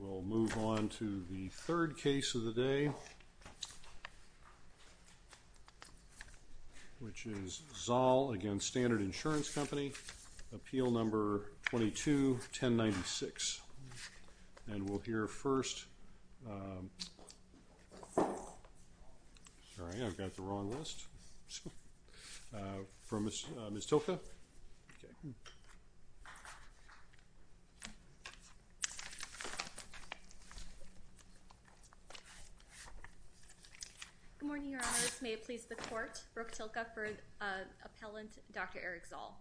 We'll move on to the third case of the day, which is Zall v. Standard Insurance Company, Appeal Number 22-1096. And we'll hear first, sorry I've got the wrong list, from Ms. Tilke. Good morning, Your Honors. May it please the Court, Brooke Tilke for Appellant Dr. Eric Zall.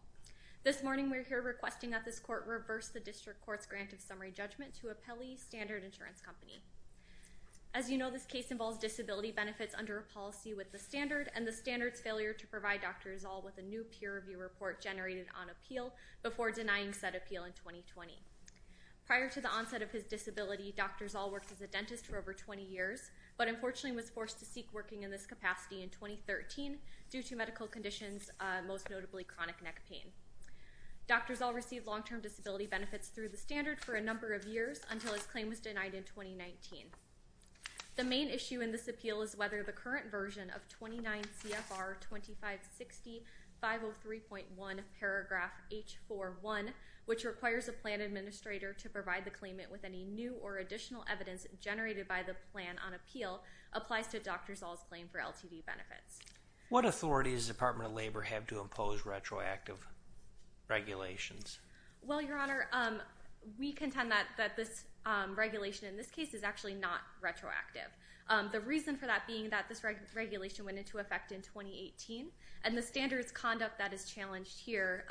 This morning we're here requesting that this Court reverse the District Court's grant of summary judgment to Appellee Standard Insurance Company. As you know, this case involves disability benefits under a policy with the Standard and the Standard's failure to generate it on appeal before denying said appeal in 2020. Prior to the onset of his disability, Dr. Zall worked as a dentist for over 20 years, but unfortunately was forced to seek working in this capacity in 2013 due to medical conditions, most notably chronic neck pain. Dr. Zall received long-term disability benefits through the Standard for a number of years until his claim was denied in 2019. The main issue in this appeal is whether the current version of 29 CFR 2560 503.1 paragraph H41, which requires a plan administrator to provide the claimant with any new or additional evidence generated by the plan on appeal, applies to Dr. Zall's claim for LTD benefits. What authority does the Department of Labor have to impose retroactive regulations? Well, Your Honor, we contend that this regulation in this case is actually not retroactive. The reason for that being that this regulation went into effect in 2018, and the Standards conduct that is challenged here,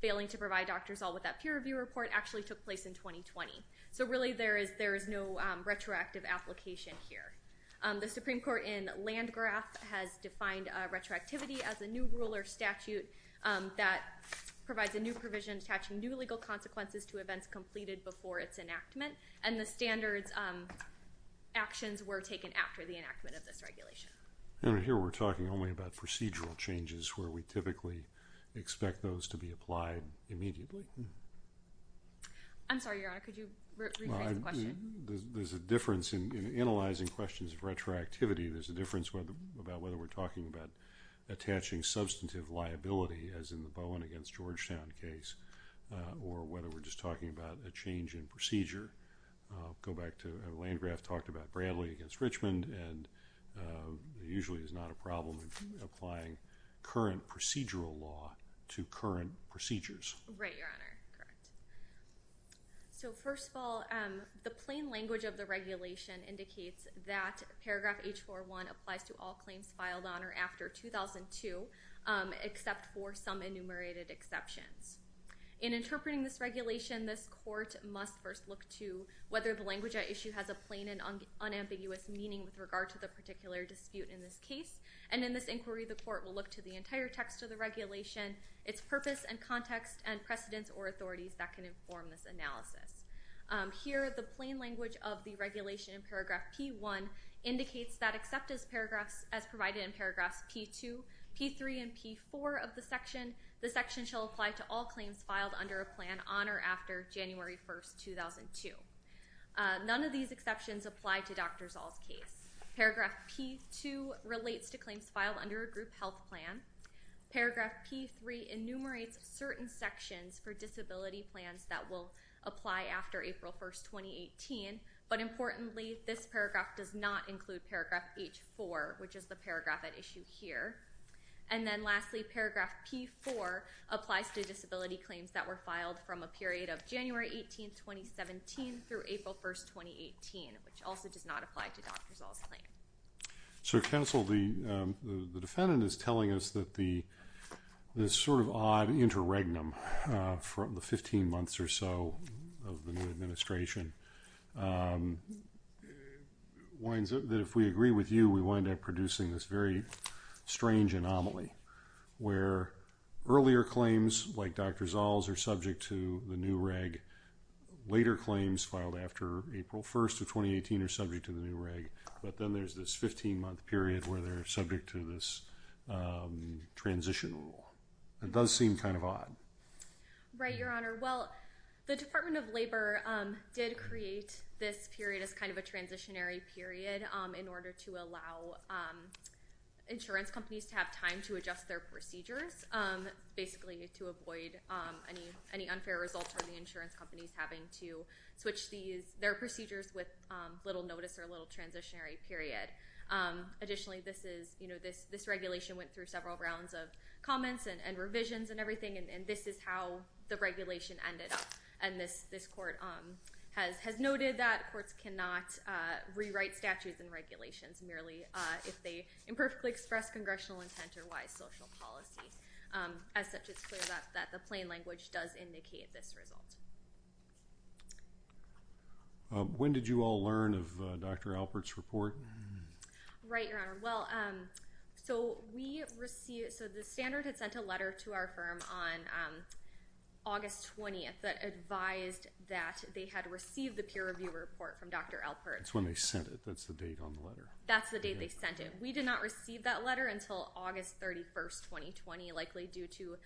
failing to provide Dr. Zall with that peer review report, actually took place in 2020. So really, there is no retroactive application here. The Supreme Court in Landgraf has defined retroactivity as a new rule or statute that provides a new provision attaching new legal consequences to events completed before its enactment, and the Standards actions were taken after the enactment of this regulation. And here we're talking only about procedural changes where we typically expect those to be applied immediately. I'm sorry, Your Honor, could you rephrase the question? There's a difference in analyzing questions of retroactivity. There's a difference whether about whether we're talking about attaching substantive liability as in the Bowen against Georgetown case, or whether we're just talking about a change in procedure. Go back to Landgraf talked about Bradley against Richmond, and usually is not a problem applying current procedural law to current procedures. Right, Your Honor. So first of all, the plain language of the regulation indicates that paragraph H41 applies to all claims filed on or after 2002, except for some enumerated exceptions. In interpreting this regulation, this court must first look to whether the language at issue has a plain and unambiguous meaning with regard to the particular dispute in this case, and in this inquiry the court will look to the entire text of the regulation, its purpose and context, and precedents or authorities that can inform this analysis. Here the plain language of the regulation in paragraph P1 indicates that except as paragraphs as provided in paragraphs P2, P3, and P4 of the section, the section shall apply to all claims filed under a plan on or after January 1st, 2002. None of these exceptions apply to Dr. Zall's case. Paragraph P2 relates to claims filed under a group health plan. Paragraph P3 enumerates certain sections for disability plans that will apply after April 1st, 2018, but importantly this paragraph does not include paragraph H4, which is the paragraph at applies to disability claims that were filed from a period of January 18th, 2017 through April 1st, 2018, which also does not apply to Dr. Zall's claim. So counsel, the defendant is telling us that the sort of odd interregnum from the 15 months or so of the new administration, that if we agree with like Dr. Zall's are subject to the new reg, later claims filed after April 1st of 2018 are subject to the new reg, but then there's this 15 month period where they're subject to this transition rule. It does seem kind of odd. Right, Your Honor. Well, the Department of Labor did create this period as kind of a transitionary period in order to allow insurance companies to have time to avoid any unfair results from the insurance companies having to switch their procedures with little notice or a little transitionary period. Additionally, this regulation went through several rounds of comments and revisions and everything, and this is how the regulation ended up. And this court has noted that courts cannot rewrite statutes and regulations merely if they imperfectly express congressional intent or wise social policy. As such, it's clear that the plain language does indicate this result. When did you all learn of Dr. Alpert's report? Right, Your Honor. Well, so we received, so the standard had sent a letter to our firm on August 20th that advised that they had received the peer review report from Dr. Alpert. That's when they sent it. That's the date on the letter. That's the date they sent it. We did not receive that letter until August 31st, 2020, likely due to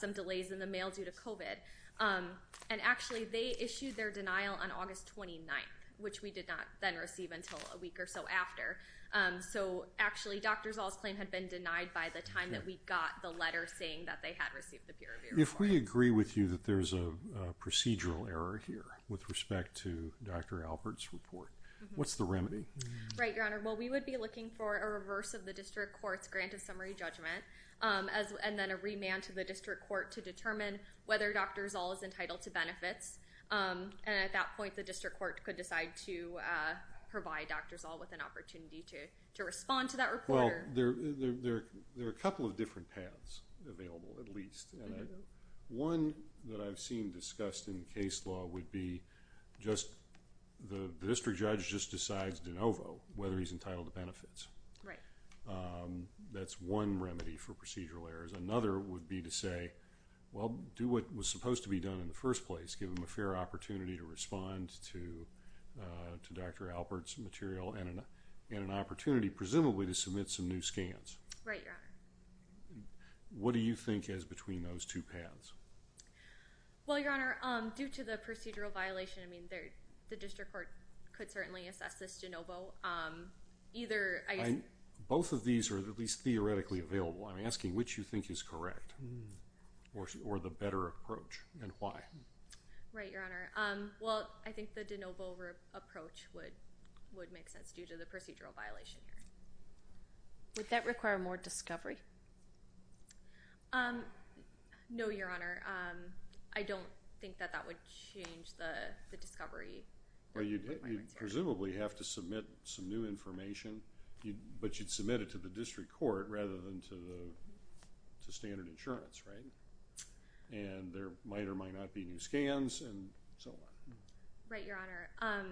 some delays in the mail due to COVID. And actually, they issued their denial on August 29th, which we did not then receive until a week or so after. So, actually, Dr. Zahl's claim had been denied by the time that we got the letter saying that they had received the peer review report. If we agree with you that there's a procedural error here with respect to Dr. Alpert's report, what's the remedy? Right, Your Honor. Well, we would be looking for a reverse of the district court's grant of summary judgment and then a remand to the district court to determine whether Dr. Zahl is entitled to benefits. And at that point, the district court could decide to provide Dr. Zahl with an opportunity to respond to that report. Well, there are a couple of different paths available, at least. One that I've seen discussed in case law would be just the district judge just decides de novo whether he's entitled to benefits. Right. That's one remedy for procedural errors. Another would be to say, well, do what was supposed to be done in the first place. Give him a fair opportunity to respond to Dr. Alpert's material and an opportunity presumably to submit some new scans. Right, Your Honor. What do you think is the procedural violation? I mean, the district court could certainly assess this de novo. Either... Both of these are at least theoretically available. I'm asking which you think is correct or the better approach and why. Right, Your Honor. Well, I think the de novo approach would make sense due to the procedural violation. Would that require more discovery? No, Your Honor. I don't think that that would change the discovery. Well, you presumably have to submit some new information, but you'd submit it to the district court rather than to the standard insurance, right? And there might or might not be new scans and so on. Right, Your Honor.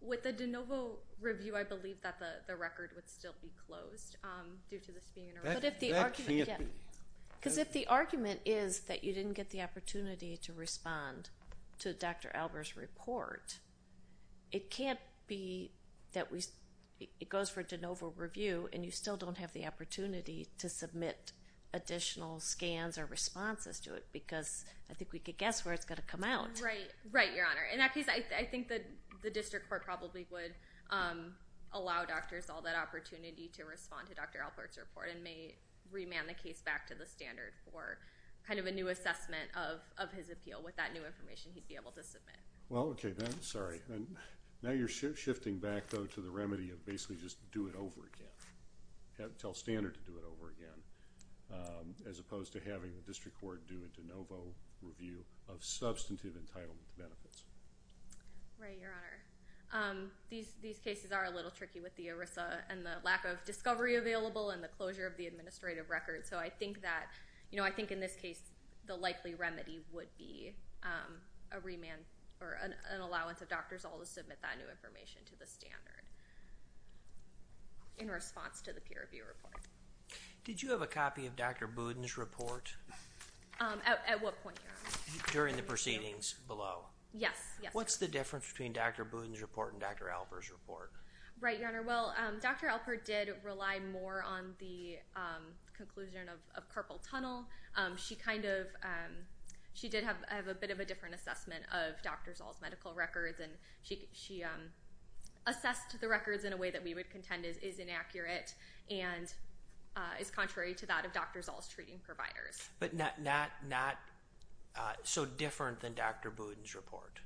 With the de novo review, I believe that the record would still be closed due to this being an error. That can't be. Because if the argument is that you didn't get the opportunity to respond to Dr. Alpert's report, it can't be that we... it goes for de novo review and you still don't have the opportunity to submit additional scans or responses to it because I think we could guess where it's going to come out. Right, Your Honor. In that case, I think that the district court probably would allow doctors all that opportunity to respond to Dr. Alpert's report and may remand the case back to the standard for kind of a new assessment of his appeal with that new information he'd be able to submit. Well, okay then. Sorry. Now you're shifting back though to the remedy of basically just do it over again. Tell standard to do it over again as opposed to having the district court do a de novo review of substantive entitlement benefits. Right, Your Honor. These cases are a little tricky with the ERISA and the lack of discovery available and the closure of the administrative record. So, I think that, you know, I think in this case the likely remedy would be a remand or an allowance of doctors all to submit that new information to the standard in response to the peer review report. Did you have a copy of Dr. Budin's report? At what point, Your Honor? During the proceedings below. Yes, yes. What's the difference between Dr. Budin's report and Dr. Alpert's report? Right, Your Honor. Well, Dr. Alpert did rely more on the conclusion of carpal tunnel. She kind of, she did have a bit of a different assessment of Dr. Zoll's medical records and she assessed the records in a way that we would contend is inaccurate and is contrary to that of Dr. Zoll's treating providers. But not so different than Dr. Budin's report?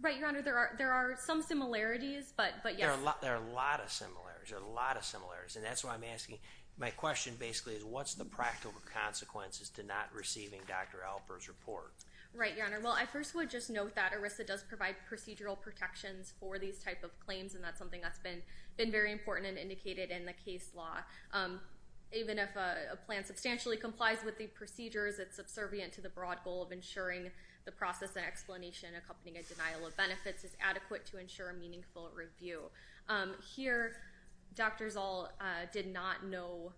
Right, Your Honor. There are some similarities, but yes. There are a lot of similarities, a lot of similarities. And that's why I'm asking, my question basically is what's the practical consequences to not receiving Dr. Alpert's report? Right, Your Honor. Well, I first would just note that ERISA does provide procedural protections for these type of claims and that's something that's been been very important and indicated in the case law. Even if a plan substantially complies with the procedures, it's subservient to the broad goal of ensuring the process and explanation accompanying a denial of benefits is here. Dr. Zoll did not know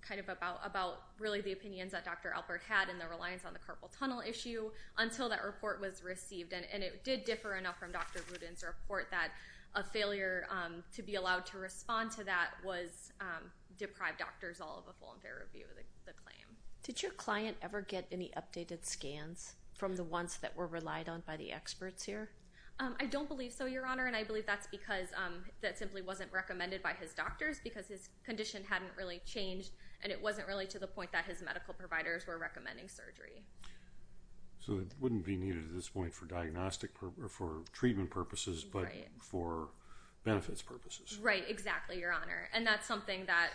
kind of about really the opinions that Dr. Alpert had in the reliance on the carpal tunnel issue until that report was received. And it did differ enough from Dr. Budin's report that a failure to be allowed to respond to that was deprived Dr. Zoll of a full and fair review of the claim. Did your client ever get any updated scans from the ones that were relied on by the simply wasn't recommended by his doctors because his condition hadn't really changed and it wasn't really to the point that his medical providers were recommending surgery. So it wouldn't be needed at this point for diagnostic or for treatment purposes but for benefits purposes. Right, exactly, Your Honor. And that's something that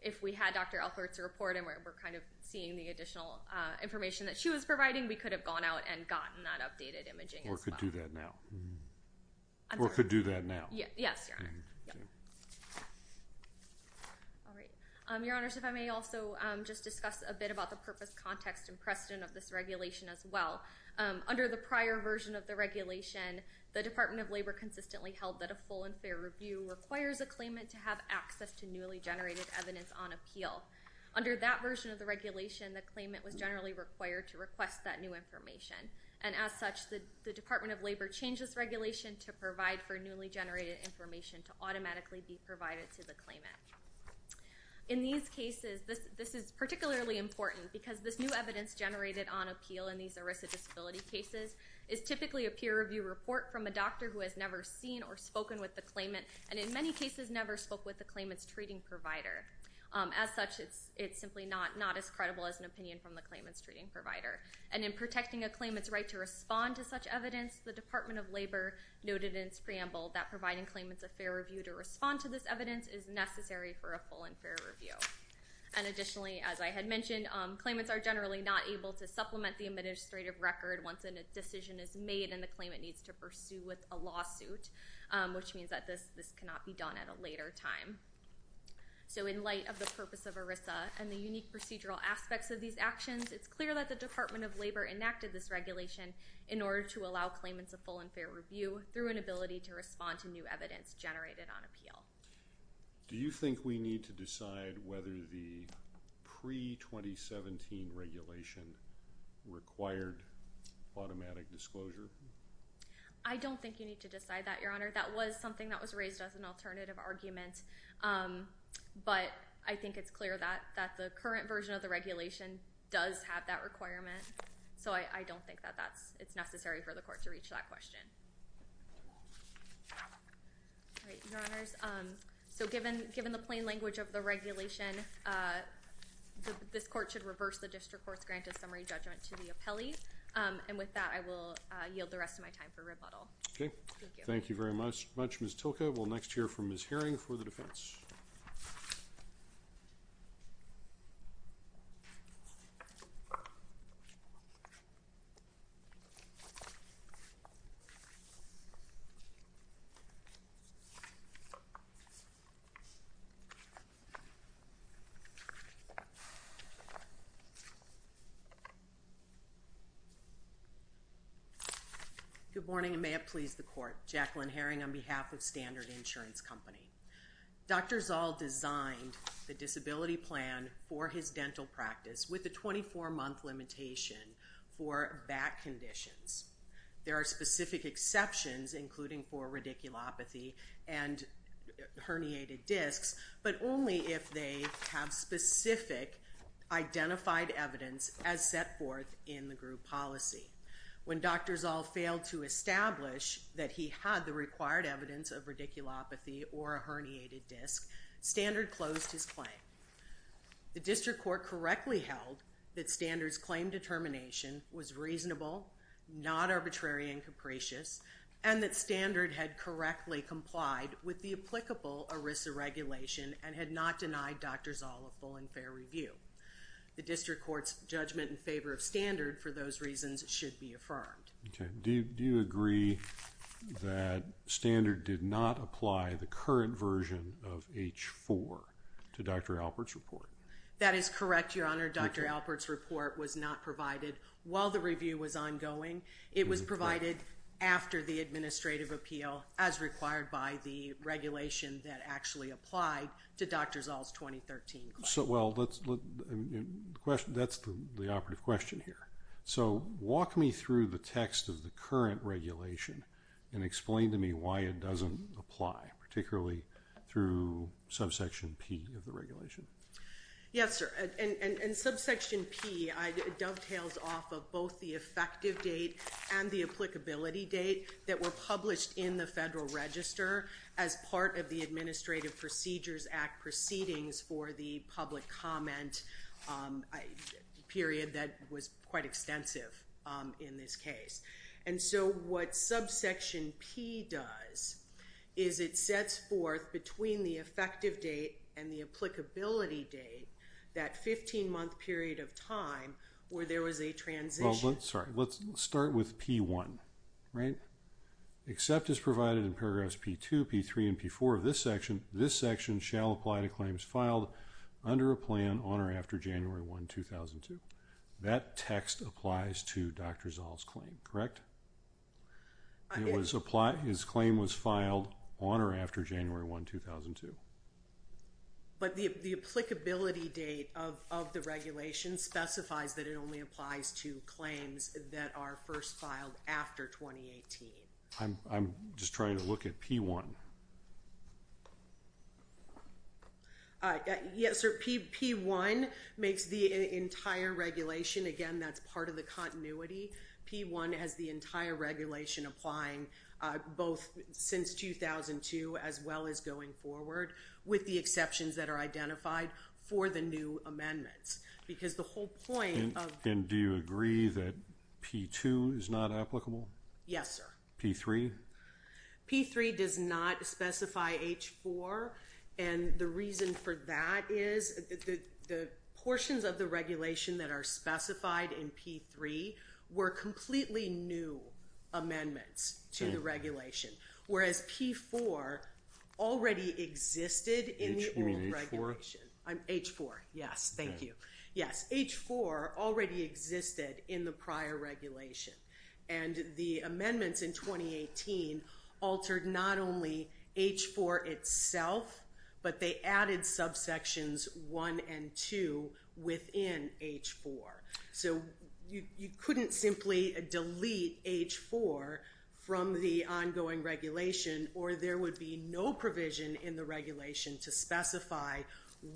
if we had Dr. Alpert's report and we're kind of seeing the additional information that she was providing, we could have gone out and gotten that updated imaging. Or could do that now. Or could do that now. Yes, Your Honor. All right. Your Honors, if I may also just discuss a bit about the purpose, context and precedent of this regulation as well. Under the prior version of the regulation, the Department of Labor consistently held that a full and fair review requires a claimant to have access to newly generated evidence on appeal. Under that version of the regulation, the claimant was generally required to request that new information. And as such, the Department of Labor changed this regulation to provide for newly generated information to automatically be provided to the claimant. In these cases, this is particularly important because this new evidence generated on appeal in these ERISA disability cases is typically a peer review report from a doctor who has never seen or spoken with the claimant and in many cases never spoke with the claimant's treating provider. As such, it's simply not as credible as an opinion from the claimant's treating provider. And in protecting a claimant's right to respond to such evidence, the Department of Labor noted in its preamble that providing claimants a fair review to respond to this evidence is necessary for a full and fair review. And additionally, as I had mentioned, claimants are generally not able to supplement the administrative record once a decision is made and the claimant needs to pursue with a lawsuit, which means that this cannot be done at a later time. So in light of the purpose of ERISA and the unique procedural aspects of these actions, it's clear that the Department of Labor has made a decision in order to allow claimants a full and fair review through an ability to respond to new evidence generated on appeal. Do you think we need to decide whether the pre-2017 regulation required automatic disclosure? I don't think you need to decide that, Your Honor. That was something that was raised as an alternative argument, but I think it's clear that the current version of the regulation does have that it's necessary for the court to reach that question. Your Honors, so given the plain language of the regulation, this court should reverse the district court's grant of summary judgment to the appellee, and with that I will yield the rest of my time for rebuttal. Okay, thank you very much, Ms. Tilka. We'll next hear from Ms. Herring for the defense. Good morning and may it please the court, Jacqueline Herring on behalf of Standard Insurance Company. Dr. Zall designed the disability plan for his There are specific exceptions, including for radiculopathy and herniated discs, but only if they have specific identified evidence as set forth in the group policy. When Dr. Zall failed to establish that he had the required evidence of radiculopathy or a herniated disc, Standard closed his claim. The district court correctly held that Standard's claim determination was reasonable, not arbitrary and capricious, and that Standard had correctly complied with the applicable ERISA regulation and had not denied Dr. Zall a full and fair review. The district court's judgment in favor of Standard for those reasons should be affirmed. Do you agree that Standard did not apply the current version of H-4 to Dr. Alpert's report? That is correct, Your Honor. Dr. review was ongoing. It was provided after the administrative appeal as required by the regulation that actually applied to Dr. Zall's 2013 claim. That's the operative question here. So walk me through the text of the current regulation and explain to me why it doesn't apply, particularly through And subsection P dovetails off of both the effective date and the applicability date that were published in the Federal Register as part of the Administrative Procedures Act proceedings for the public comment period that was quite extensive in this case. And so what subsection P does is it sets forth between the effective date and the applicability date, that 15-month period of time where there was a transition. Sorry, let's start with P1, right? Except as provided in paragraphs P2, P3, and P4 of this section, this section shall apply to claims filed under a plan on or after January 1, 2002. That text applies to Dr. Zall's claim, correct? It was applied, his claim was filed on or January 1, 2002. But the applicability date of the regulation specifies that it only applies to claims that are first filed after 2018. I'm just trying to look at P1. Yes, sir, P1 makes the entire regulation, again that's part of the with the exceptions that are identified for the new amendments. Because the whole point of... And do you agree that P2 is not applicable? Yes, sir. P3? P3 does not specify H4 and the reason for that is the portions of the regulation that are specified in P3 were completely new amendments to the regulation, whereas P4 already existed in the old regulation. You mean H4? H4, yes, thank you. Yes, H4 already existed in the prior regulation and the amendments in 2018 altered not only H4 itself, but they added subsections 1 and 2 within H4. So you couldn't simply delete H4 from the no provision in the regulation to specify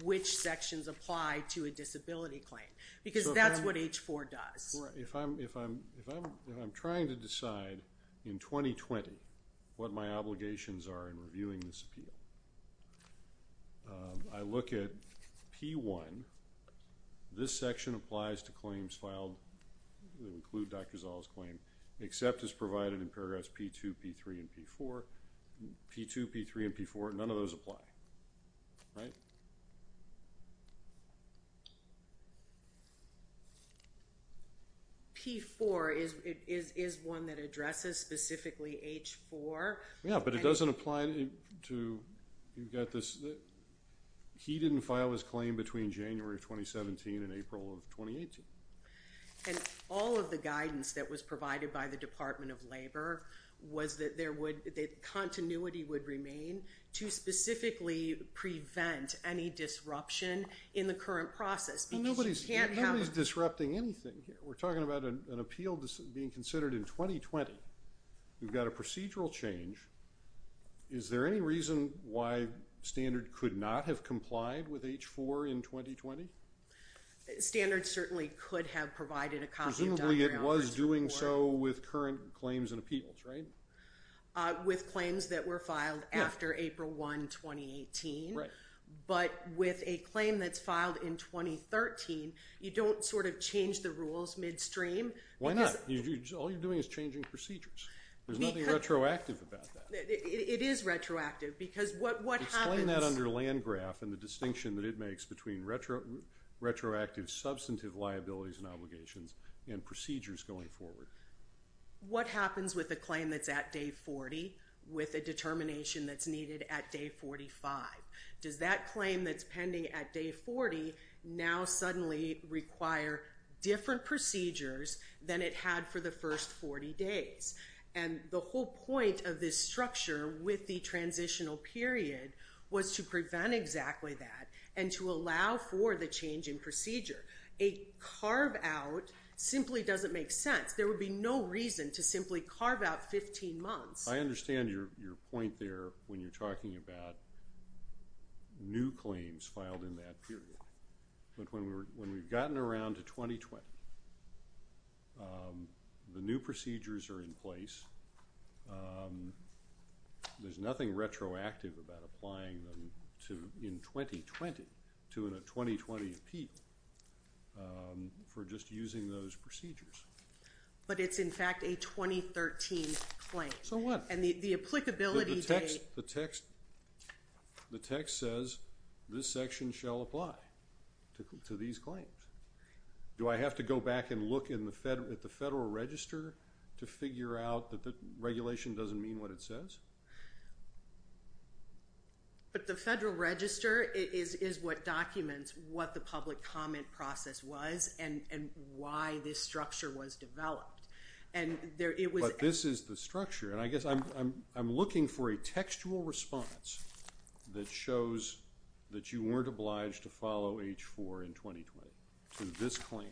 which sections apply to a disability claim because that's what H4 does. If I'm trying to decide in 2020 what my obligations are in reviewing this appeal, I look at P1, this section applies to claims filed that include Dr. Zahl's claim, except as P3 and P4, none of those apply. P4 is one that addresses specifically H4. Yeah, but it doesn't apply to... You've got this... He didn't file his claim between January of 2017 and April of 2018. And all of the guidance that was provided by the specifically prevent any disruption in the current process. Nobody's disrupting anything. We're talking about an appeal being considered in 2020. We've got a procedural change. Is there any reason why Standard could not have complied with H4 in 2020? Standard certainly could have provided a copy of Dr. Zahl's claim. Presumably it was doing so with current claims and appeals, right? With claims that were filed after April 1, 2018. But with a claim that's filed in 2013, you don't sort of change the rules midstream. Why not? All you're doing is changing procedures. There's nothing retroactive about that. It is retroactive because what... Explain that under Land Graph and the distinction that it makes between retroactive substantive liabilities and obligations and procedures going forward. What happens with a claim that's at day 40 with a determination that's needed at day 45? Does that claim that's pending at day 40 now suddenly require different procedures than it had for the first 40 days? And the whole point of this structure with the transitional period was to prevent exactly that and to allow for the change in procedure. A carve-out simply doesn't make sense. There would be no reason to simply carve out 15 months. I understand your point there when you're talking about new claims filed in that period. But when we've gotten around to 2020, the new procedures are in place. There's nothing retroactive about applying them in 2020 to a 2020 appeal for just using those procedures. But it's in fact a 2013 claim. So what? And the applicability date... The text says this section shall apply to these claims. Do I have to go back and look at the Federal Register to figure out that the But the Federal Register is what documents what the public comment process was and why this structure was developed. But this is the structure and I guess I'm looking for a textual response that shows that you weren't obliged to follow H4 in 2020 to this claim.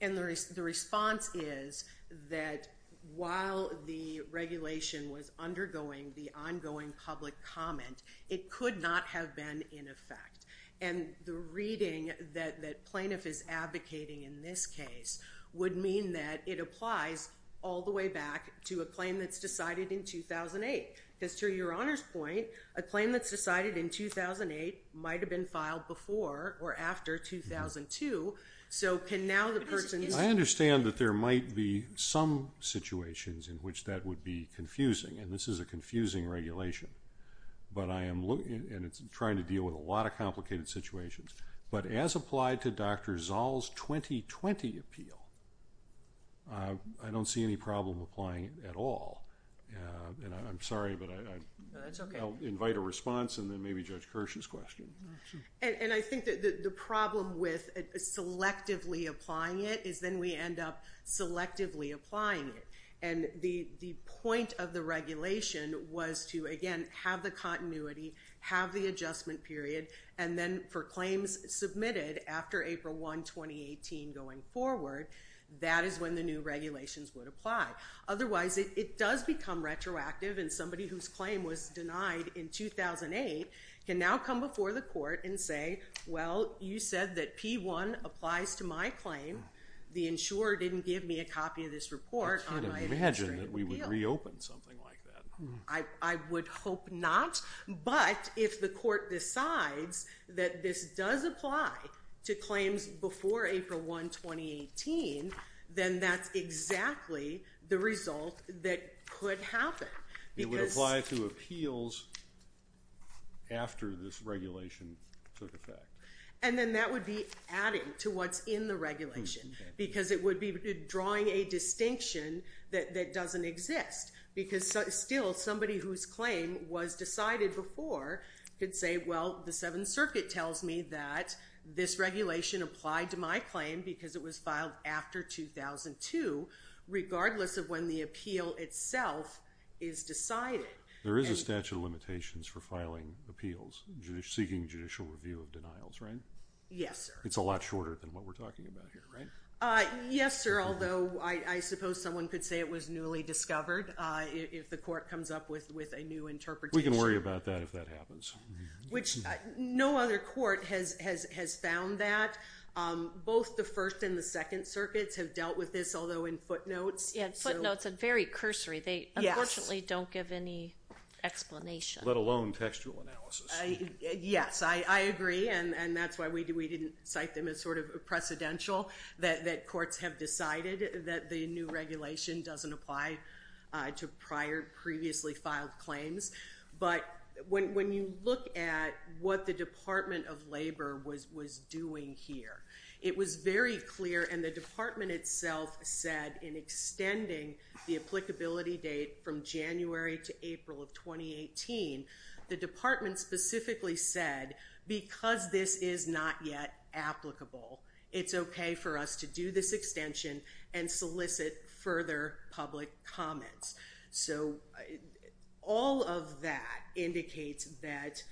And the response is that while the regulation was undergoing the ongoing public comment, it could not have been in effect. And the reading that plaintiff is advocating in this case would mean that it applies all the way back to a claim that's decided in 2008. Because to your Honor's point, a claim that's decided in 2008 might have been filed before or after 2002. So can now the person... I understand that there might be some situations in which that would be confusing and this is a confusing regulation. But I am looking and it's trying to deal with a lot of complicated situations. But as applied to Dr. Zoll's 2020 appeal, I don't see any problem applying it at all. And I'm sorry but I'll invite a response and then maybe Judge Kirsch's question. And I think that the problem with selectively applying it is then we end up selectively applying it. And the point of the regulation was to again have the continuity, have the adjustment period, and then for claims submitted after April 1, 2018 going forward, that is when the new regulations would apply. Otherwise it does become retroactive and somebody whose claim was denied in 2008 can now come before the court and say, well you said that P1 applies to my claim. The insurer didn't give me a copy of this report. I can't imagine that we would reopen something like that. I would hope not. But if the court decides that this does apply to claims before April 1, 2018, then that's exactly the result that could happen. It would apply to appeals after this regulation took effect. And then that would be adding to what's in the regulation because it would be drawing a distinction that doesn't exist. Because still somebody whose claim was decided before could say, well the Seventh Circuit tells me that this regulation applied to my claim because it was filed after 2002 regardless of when the appeal itself is decided. There is a statute of limitations for filing appeals seeking judicial review of denials, right? Yes, sir. It's a lot shorter than what we're talking about here, right? Yes, sir. Although I suppose someone could say it was newly discovered if the court comes up with a new interpretation. We can worry about that if that happens. Which no other court has found that. Both the First and the Second Circuits have dealt with this, although in footnotes. Footnotes are very cursory. They unfortunately don't give any explanation. Let alone textual analysis. Yes, I agree and that's why we didn't cite them as sort of a precedential. That courts have decided that the new regulation doesn't apply to previously filed claims. But when you look at what the Department of Labor was doing here, it was very clear and the department itself said in extending the applicability date from January to April of 2018, the department specifically said because this is not yet applicable, it's okay for us to do this extension and solicit further public comments. So all of that indicates that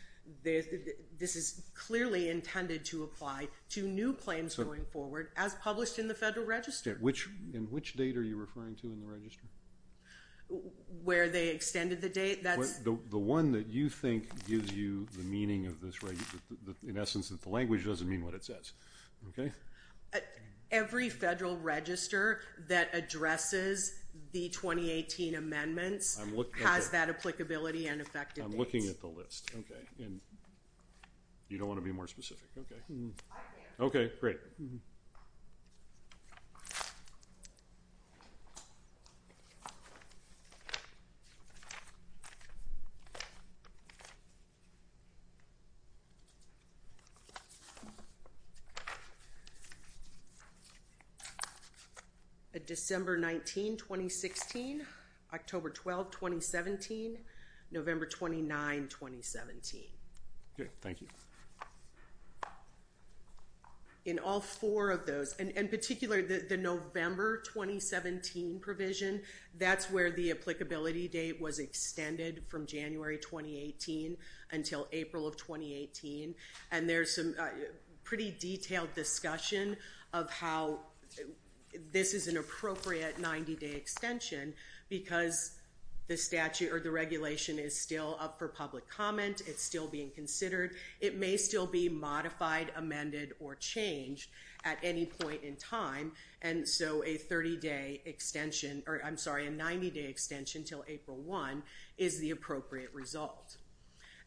this is clearly intended to apply to new claims going forward as published in the Federal Register. Which date are you referring to in the register? Where they extended the date. The one that you think gives you the meaning of this, in essence, that the language doesn't mean what it says. Okay. Every Federal Register that addresses the 2018 amendments has that applicability and effective dates. I'm looking at the list. Okay. And you don't want to be more specific. Okay. Okay. Great. December 19, 2016. October 12, 2017. November 29, 2017. Okay. Thank you. In all the November 2017 provision, that's where the applicability date was extended from January 2018 until April of 2018. And there's some pretty detailed discussion of how this is an appropriate 90-day extension because the statute or the regulation is still up for public comment. It's still being considered. It may still be modified, amended, or changed at any point in time. And so a 30-day extension, or I'm sorry, a 90-day extension until April 1 is the appropriate result.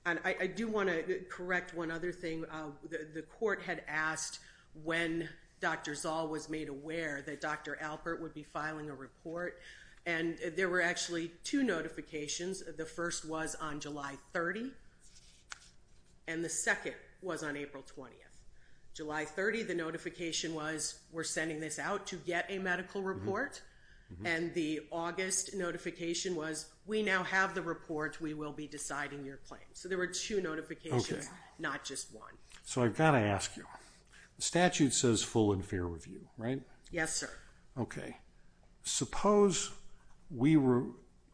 And I do want to correct one other thing. The court had asked when Dr. Zoll was made aware that Dr. Alpert would be filing a report. And there were actually two notifications. The first was on July 30, and the second was on April 20. July 30, the notification was we're sending this out to get a medical report. And the August notification was we now have the report. We will be deciding your claim. So there were two notifications, not just one. So I've got to ask you. The statute says full and fair review, right? Yes, sir. Okay. Suppose we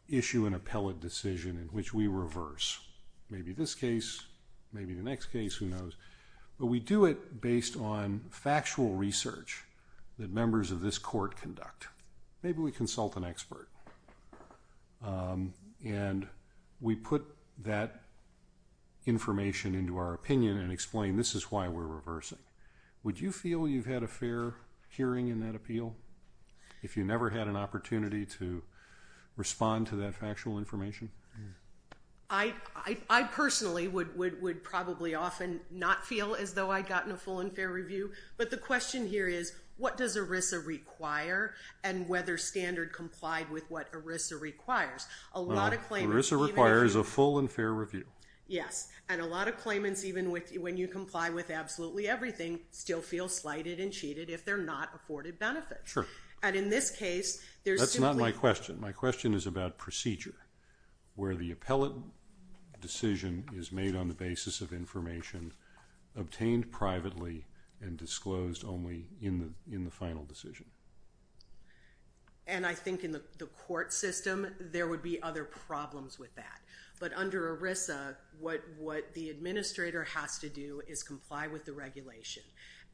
issue an appellate decision in which we reverse. Maybe this case, who knows. But we do it based on factual research that members of this court conduct. Maybe we consult an expert. And we put that information into our opinion and explain this is why we're reversing. Would you feel you've had a fair hearing in that appeal if you never had an opportunity to respond to that I would often not feel as though I'd gotten a full and fair review. But the question here is what does ERISA require and whether Standard complied with what ERISA requires. ERISA requires a full and fair review. Yes. And a lot of claimants, even when you comply with absolutely everything, still feel slighted and cheated if they're not afforded benefit. Sure. And in this case, that's not my question. My question is about procedure, where the obtained privately and disclosed only in the final decision. And I think in the court system, there would be other problems with that. But under ERISA, what the administrator has to do is comply with the regulation.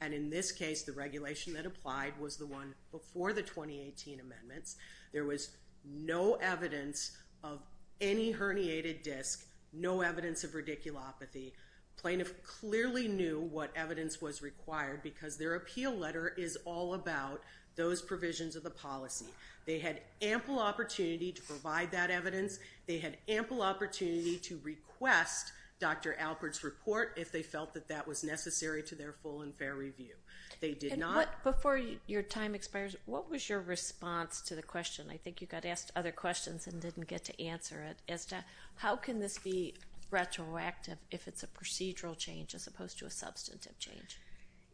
And in this case, the regulation that applied was the one before the 2018 amendments. There was no evidence of any herniated disc, no evidence of radiculopathy, plaintiff clearly knew what evidence was required because their appeal letter is all about those provisions of the policy. They had ample opportunity to provide that evidence. They had ample opportunity to request Dr. Alpert's report if they felt that that was necessary to their full and fair review. They did not... Before your time expires, what was your response to the question? I think you got asked other questions and didn't get to answer it. As to how can this be retroactive if it's a procedural change as opposed to a substantive change?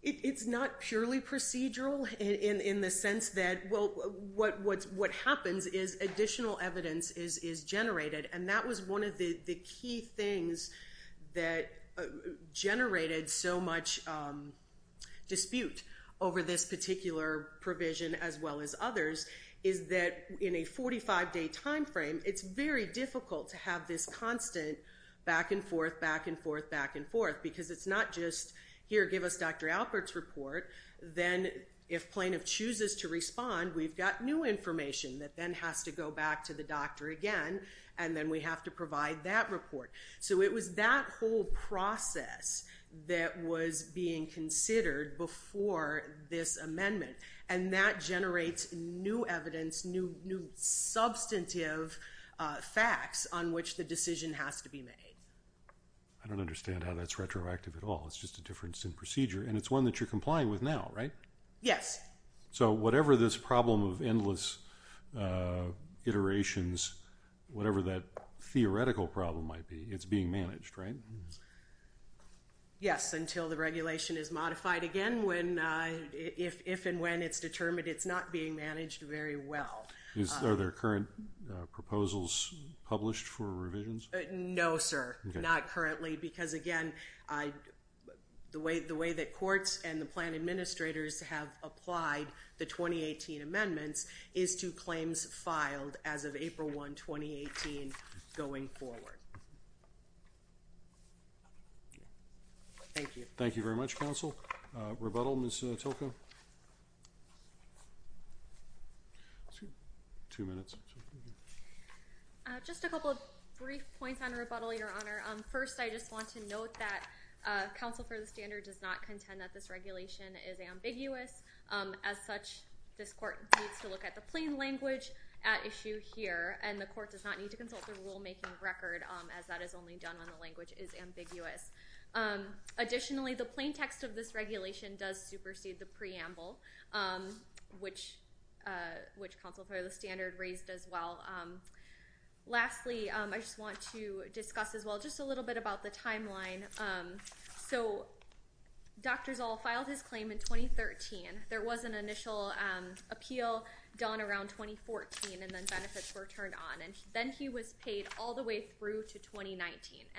It's not purely procedural in the sense that, well, what happens is additional evidence is generated. And that was one of the key things that generated so much dispute over this particular provision as well as others, is that in a 45-day timeframe, it's very difficult to have this constant back and forth, back and forth, back and forth, because it's not just, here, give us Dr. Alpert's report. Then if plaintiff chooses to respond, we've got new information that then has to go back to the doctor again, and then we have to provide that report. So it was that whole process that was being considered before this amendment, and that generates new evidence, new substantive facts on which the decision has to be made. I don't understand how that's retroactive at all. It's just a difference in procedure, and it's one that you're complying with now, right? Yes. So whatever this problem of endless iterations, whatever that theoretical problem might be, it's being managed, right? Yes, until the regulation is modified again, if and when it's determined it's not being managed very well. Are there current proposals published for revisions? No, sir, not currently, because again, the way that courts and the plan administrators have applied the 2018 amendments is to claims filed as of April 1, 2018, going forward. Thank you. Thank you very much, counsel. Rebuttal, Ms. Tocco? Two minutes. Just a couple of brief points on rebuttal, Your Honor. First, I just want to note that counsel for the standard does not contend that this regulation is ambiguous. As such, this court needs to look at the plain language at issue here, and the court does not need to consult the rulemaking record, as that is only done when the language is ambiguous. Additionally, the plain text of this regulation does supersede the preamble, which counsel for the standard raised as well. Lastly, I just want to discuss as well just a little bit about the timeline. So Dr. Zoll filed his claim in 2013. There was an initial appeal done around 2014, and then benefits were turned on, and then he was paid all the way through to 2019,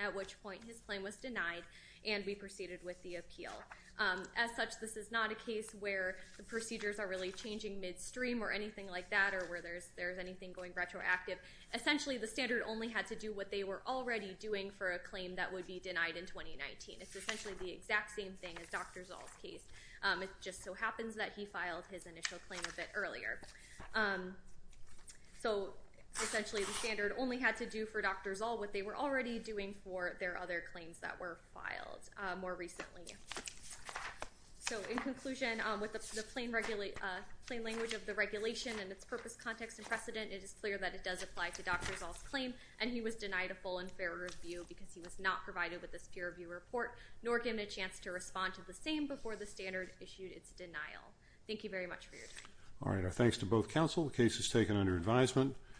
at which point his claim was denied, and we proceeded with the appeal. As such, this is not a case where the procedures are really changing midstream or anything like that, or where there's there's anything going retroactive. Essentially, the standard only had to do what they were already doing for a claim that would be denied in 2019. It's essentially the exact same thing as Dr. Zoll's case. It just so happens that he filed his initial claim a bit earlier. So essentially, the standard only had to do for Dr. Zoll what they were already doing for their claims that were filed more recently. So in conclusion, with the plain language of the regulation and its purpose, context, and precedent, it is clear that it does apply to Dr. Zoll's claim, and he was denied a full and fair review because he was not provided with this peer review report, nor given a chance to respond to the same before the standard issued its denial. Thank you very much for your time. All right, our thanks to both counsel. The case is taken under advisement.